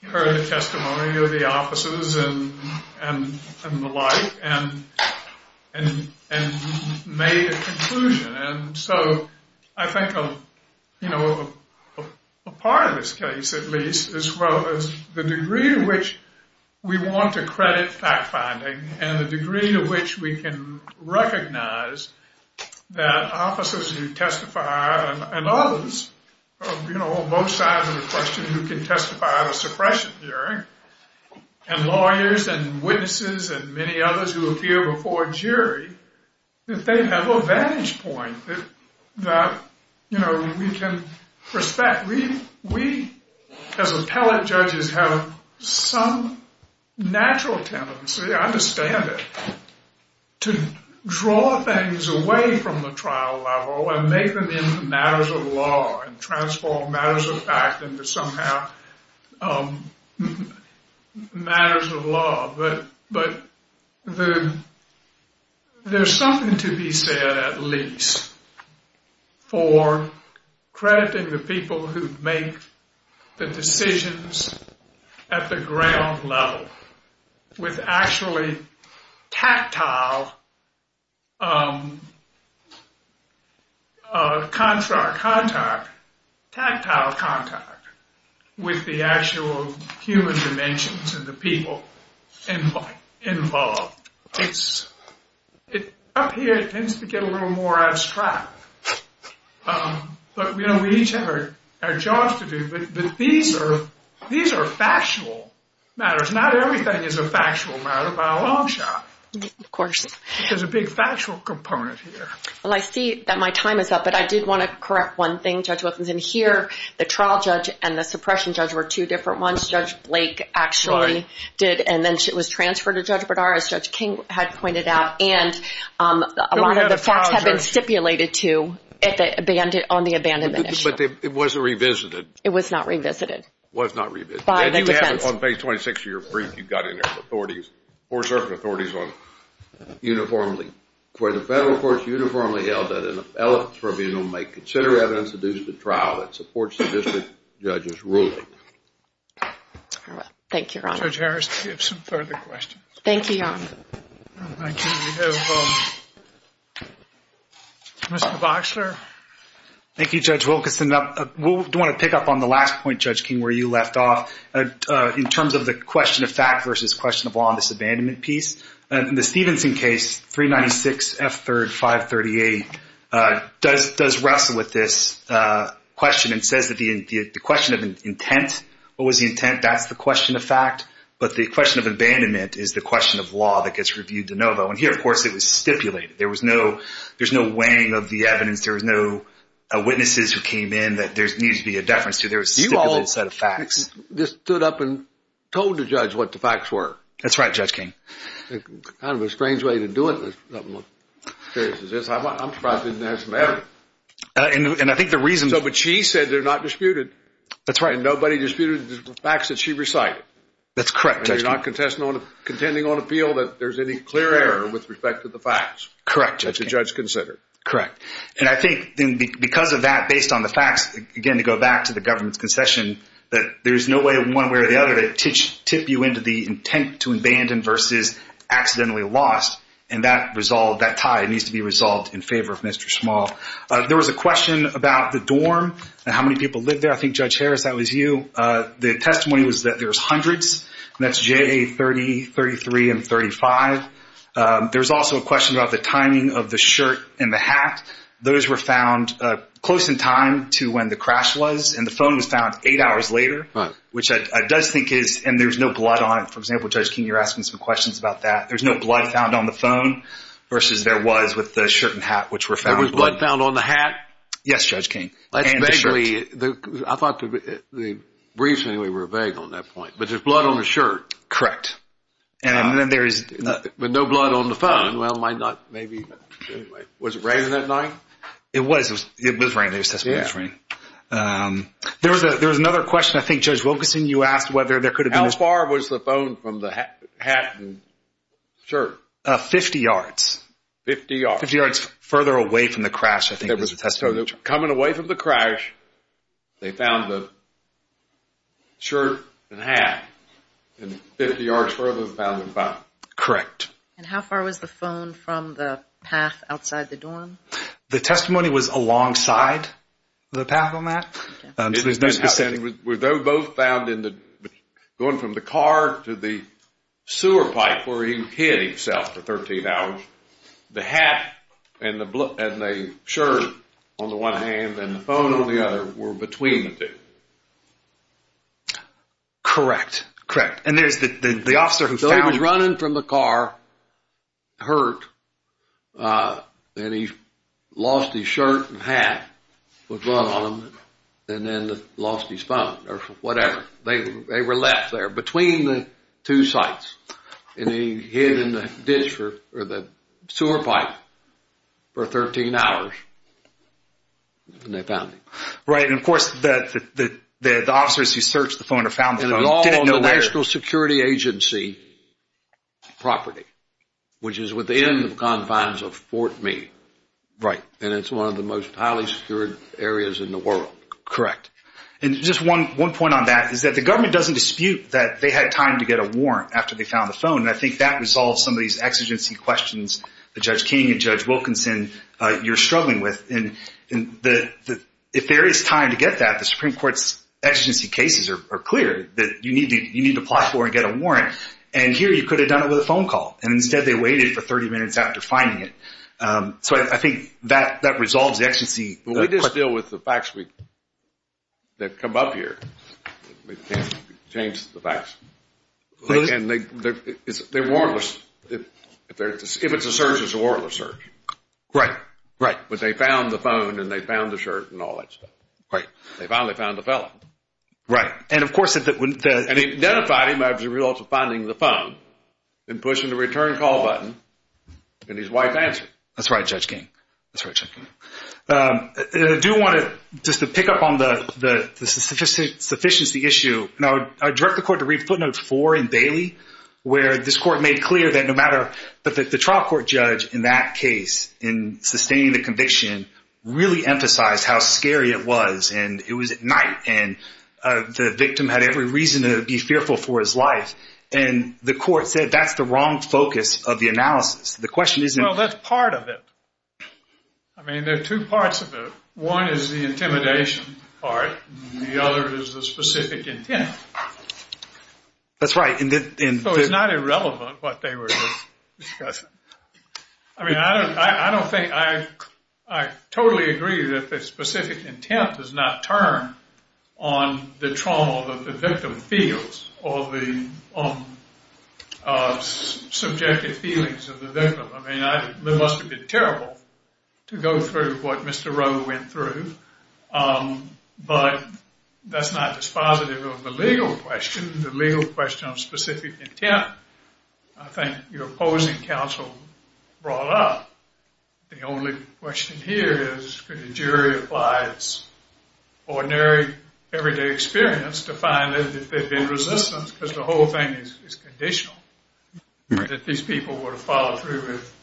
He heard the testimony of the officers and the like and made a conclusion. And so I think, you know, a part of this case, at least, is the degree to which we want to credit fact finding. And the degree to which we can recognize that officers who testify and others, you know, both sides of the question, who can testify at a suppression hearing, and lawyers and witnesses and many others who appear before a jury, that they have a vantage point that, you know, we can respect. We, as appellate judges, have some natural tendency, I understand it, to draw things away from the trial level and make them into matters of law and transform matters of fact into somehow matters of law. But there's something to be said, at least, for crediting the people who make the decisions at the ground level with actually tactile contact with the actual human dimensions of the people involved. Up here, it tends to get a little more abstract. But, you know, we each have our jobs to do. But these are factual matters. Not everything is a factual matter by a long shot. Of course. There's a big factual component here. Well, I see that my time is up, but I did want to correct one thing, Judge Wilkinson. Here, the trial judge and the suppression judge were two different ones. Judge Blake actually did, and then was transferred to Judge Bernard, as Judge King had pointed out. And a lot of the facts have been stipulated, too, on the abandonment issue. But it wasn't revisited. It was not revisited. It was not revisited. By the defense. On page 26 of your brief, you got in there with authorities, court-serving authorities, uniformly, where the federal courts uniformly held that an elephant's tribunal may consider evidence adduced at trial that supports the district judge's ruling. All right. Judge Harris, do you have some further questions? Thank you, Your Honor. Thank you. We have Mr. Boxler. Thank you, Judge Wilkinson. I do want to pick up on the last point, Judge King, where you left off in terms of the question of fact versus question of law in this abandonment piece. In the Stevenson case, 396F3, 538, does wrestle with this question and says that the question of intent, what was the intent, that's the question of fact. But the question of abandonment is the question of law that gets reviewed de novo. And here, of course, it was stipulated. There was no weighing of the evidence. There was no witnesses who came in that there needed to be a deference to. There was a stipulated set of facts. You all just stood up and told the judge what the facts were. That's right, Judge King. Kind of a strange way to do it. I'm surprised it didn't have some evidence. And I think the reason— But she said they're not disputed. That's right. And nobody disputed the facts that she recited. That's correct, Judge King. And you're not contending on appeal that there's any clear error with respect to the facts. Correct, Judge King. That the judge considered. Correct. And I think because of that, based on the facts, again, to go back to the government's concession, that there's no way one way or the other to tip you into the intent to abandon versus accidentally lost, and that tie needs to be resolved in favor of Mr. Small. There was a question about the dorm and how many people lived there. I think, Judge Harris, that was you. The testimony was that there was hundreds, and that's J, A, 30, 33, and 35. There was also a question about the timing of the shirt and the hat. Those were found close in time to when the crash was, and the phone was found eight hours later, which I does think is—and there's no blood on it. For example, Judge King, you're asking some questions about that. There's no blood found on the phone versus there was with the shirt and hat, which were found. There was blood found on the hat? Yes, Judge King. And the shirt. I thought the briefs anyway were vague on that point, but there's blood on the shirt. Correct. And then there is— But no blood on the phone. Well, might not—maybe. Was it raining that night? It was. It was raining. There was testimony that it was raining. There was another question. I think, Judge Wilkerson, you asked whether there could have been— How far was the phone from the hat and shirt? Fifty yards. Fifty yards. Fifty yards further away from the crash, I think, was the testimony. Coming away from the crash, they found the shirt and hat. And 50 yards further, they found the phone. Correct. And how far was the phone from the path outside the dorm? The testimony was alongside the path on that? It was both found in the—going from the car to the sewer pipe where he hid himself for 13 hours. The hat and the shirt on the one hand and the phone on the other were between the two. Correct. Correct. And there's the officer who found— So he was running from the car, hurt, and he lost his shirt and hat, put one on, and then lost his phone or whatever. They were left there between the two sites. And he hid in the ditch or the sewer pipe for 13 hours, and they found him. Right. And, of course, the officers who searched the phone or found the phone didn't know where— It was all on the National Security Agency property, which is within the confines of Fort Meade. Right. And it's one of the most highly secured areas in the world. Correct. And just one point on that is that the government doesn't dispute that they had time to get a warrant after they found the phone. And I think that resolves some of these exigency questions that Judge King and Judge Wilkinson, you're struggling with. And if there is time to get that, the Supreme Court's exigency cases are clear that you need to apply for and get a warrant. And here you could have done it with a phone call, and instead they waited for 30 minutes after finding it. So I think that resolves the exigency. But we just deal with the facts that come up here. We can't change the facts. Really? And they're warrantless. If it's a search, it's a warrantless search. Right. Right. But they found the phone, and they found the shirt and all that stuff. Right. They finally found the fellow. Right. And, of course— And they identified him as a result of finding the phone and pushing the return call button, and his wife answered. That's right, Judge King. That's right, Judge King. I do want to just pick up on the sufficiency issue. Now, I direct the court to read footnote four in Bailey, where this court made clear that no matter— that the trial court judge in that case, in sustaining the conviction, really emphasized how scary it was. And it was at night, and the victim had every reason to be fearful for his life. And the court said that's the wrong focus of the analysis. The question isn't— I mean, there are two parts of it. One is the intimidation part, and the other is the specific intent. That's right. So it's not irrelevant what they were discussing. I mean, I don't think—I totally agree that the specific intent does not turn on the trauma that the victim feels or the subjective feelings of the victim. I mean, it must have been terrible to go through what Mr. Rowe went through. But that's not dispositive of the legal question. The legal question of specific intent, I think your opposing counsel brought up. The only question here is could a jury apply its ordinary, everyday experience to find that there'd been resistance because the whole thing is conditional, that these people would have followed through with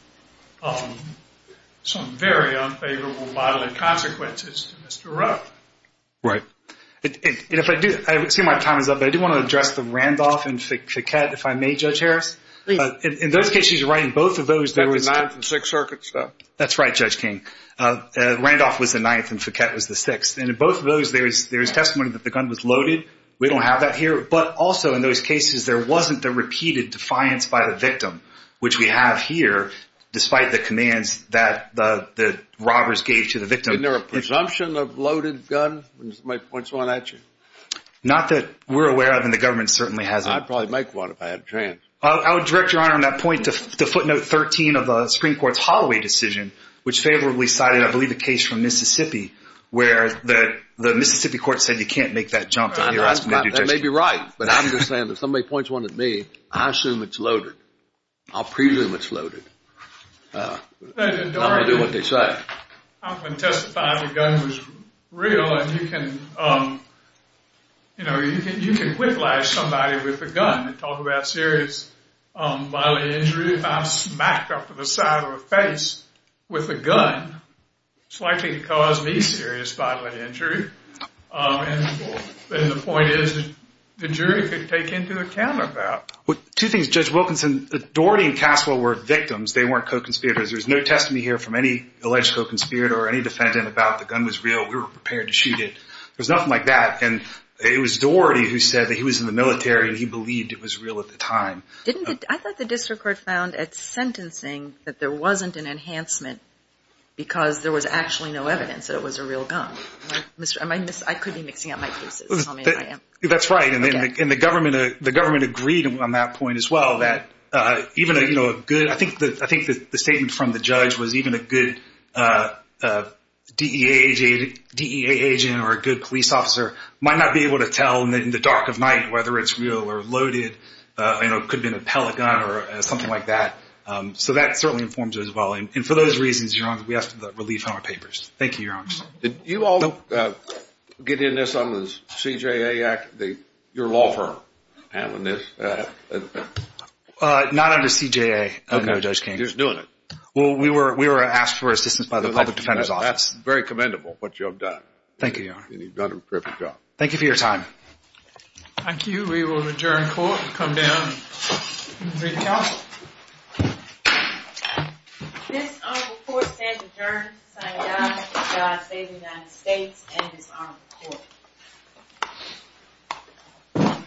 some very unfavorable, violent consequences to Mr. Rowe. Right. And if I do—I see my time is up, but I do want to address the Randolph and Fiquette, if I may, Judge Harris. Please. In those cases, you're right, in both of those, there was— The ninth and sixth circuits, though. That's right, Judge King. Randolph was the ninth and Fiquette was the sixth. And in both of those, there is testimony that the gun was loaded. We don't have that here. But also, in those cases, there wasn't the repeated defiance by the victim, which we have here, despite the commands that the robbers gave to the victim. Isn't there a presumption of loaded gun? What's going on at you? Not that we're aware of, and the government certainly hasn't. I'd probably make one if I had a chance. I would direct Your Honor on that point to footnote 13 of the Supreme Court's Holloway decision, which favorably cited, I believe, a case from Mississippi where the Mississippi court said you can't make that jump. That may be right, but I'm just saying if somebody points one at me, I assume it's loaded. I'll presume it's loaded. I'm going to do what they say. I can testify the gun was real, and you can, you know, you can whiplash somebody with a gun and talk about serious bodily injury. If I'm smacked up to the side of the face with a gun, it's likely to cause me serious bodily injury. And the point is the jury could take into account that. Two things, Judge Wilkinson. Doherty and Caswell were victims. They weren't co-conspirators. There's no testimony here from any alleged co-conspirator or any defendant about the gun was real. We were prepared to shoot it. There's nothing like that, and it was Doherty who said that he was in the military, and he believed it was real at the time. I thought the district court found at sentencing that there wasn't an enhancement because there was actually no evidence that it was a real gun. I could be mixing up my pieces. Tell me if I am. That's right, and the government agreed on that point as well that even a good, I think the statement from the judge was even a good DEA agent or a good police officer might not be able to tell in the dark of night whether it's real or loaded. It could have been a pellet gun or something like that. So that certainly informs it as well, and for those reasons, Your Honor, we have to relieve from our papers. Thank you, Your Honor. Did you all get in this on the CJA Act, your law firm handling this? Not under CJA, no, Judge King. You're just doing it. Well, we were asked for assistance by the Public Defender's Office. That's very commendable what you have done. Thank you, Your Honor. You've done a terrific job. Thank you for your time. Thank you. We will adjourn court and come down and read the court. This honorable court stands adjourned, signing off, with God save the United States and this honorable court.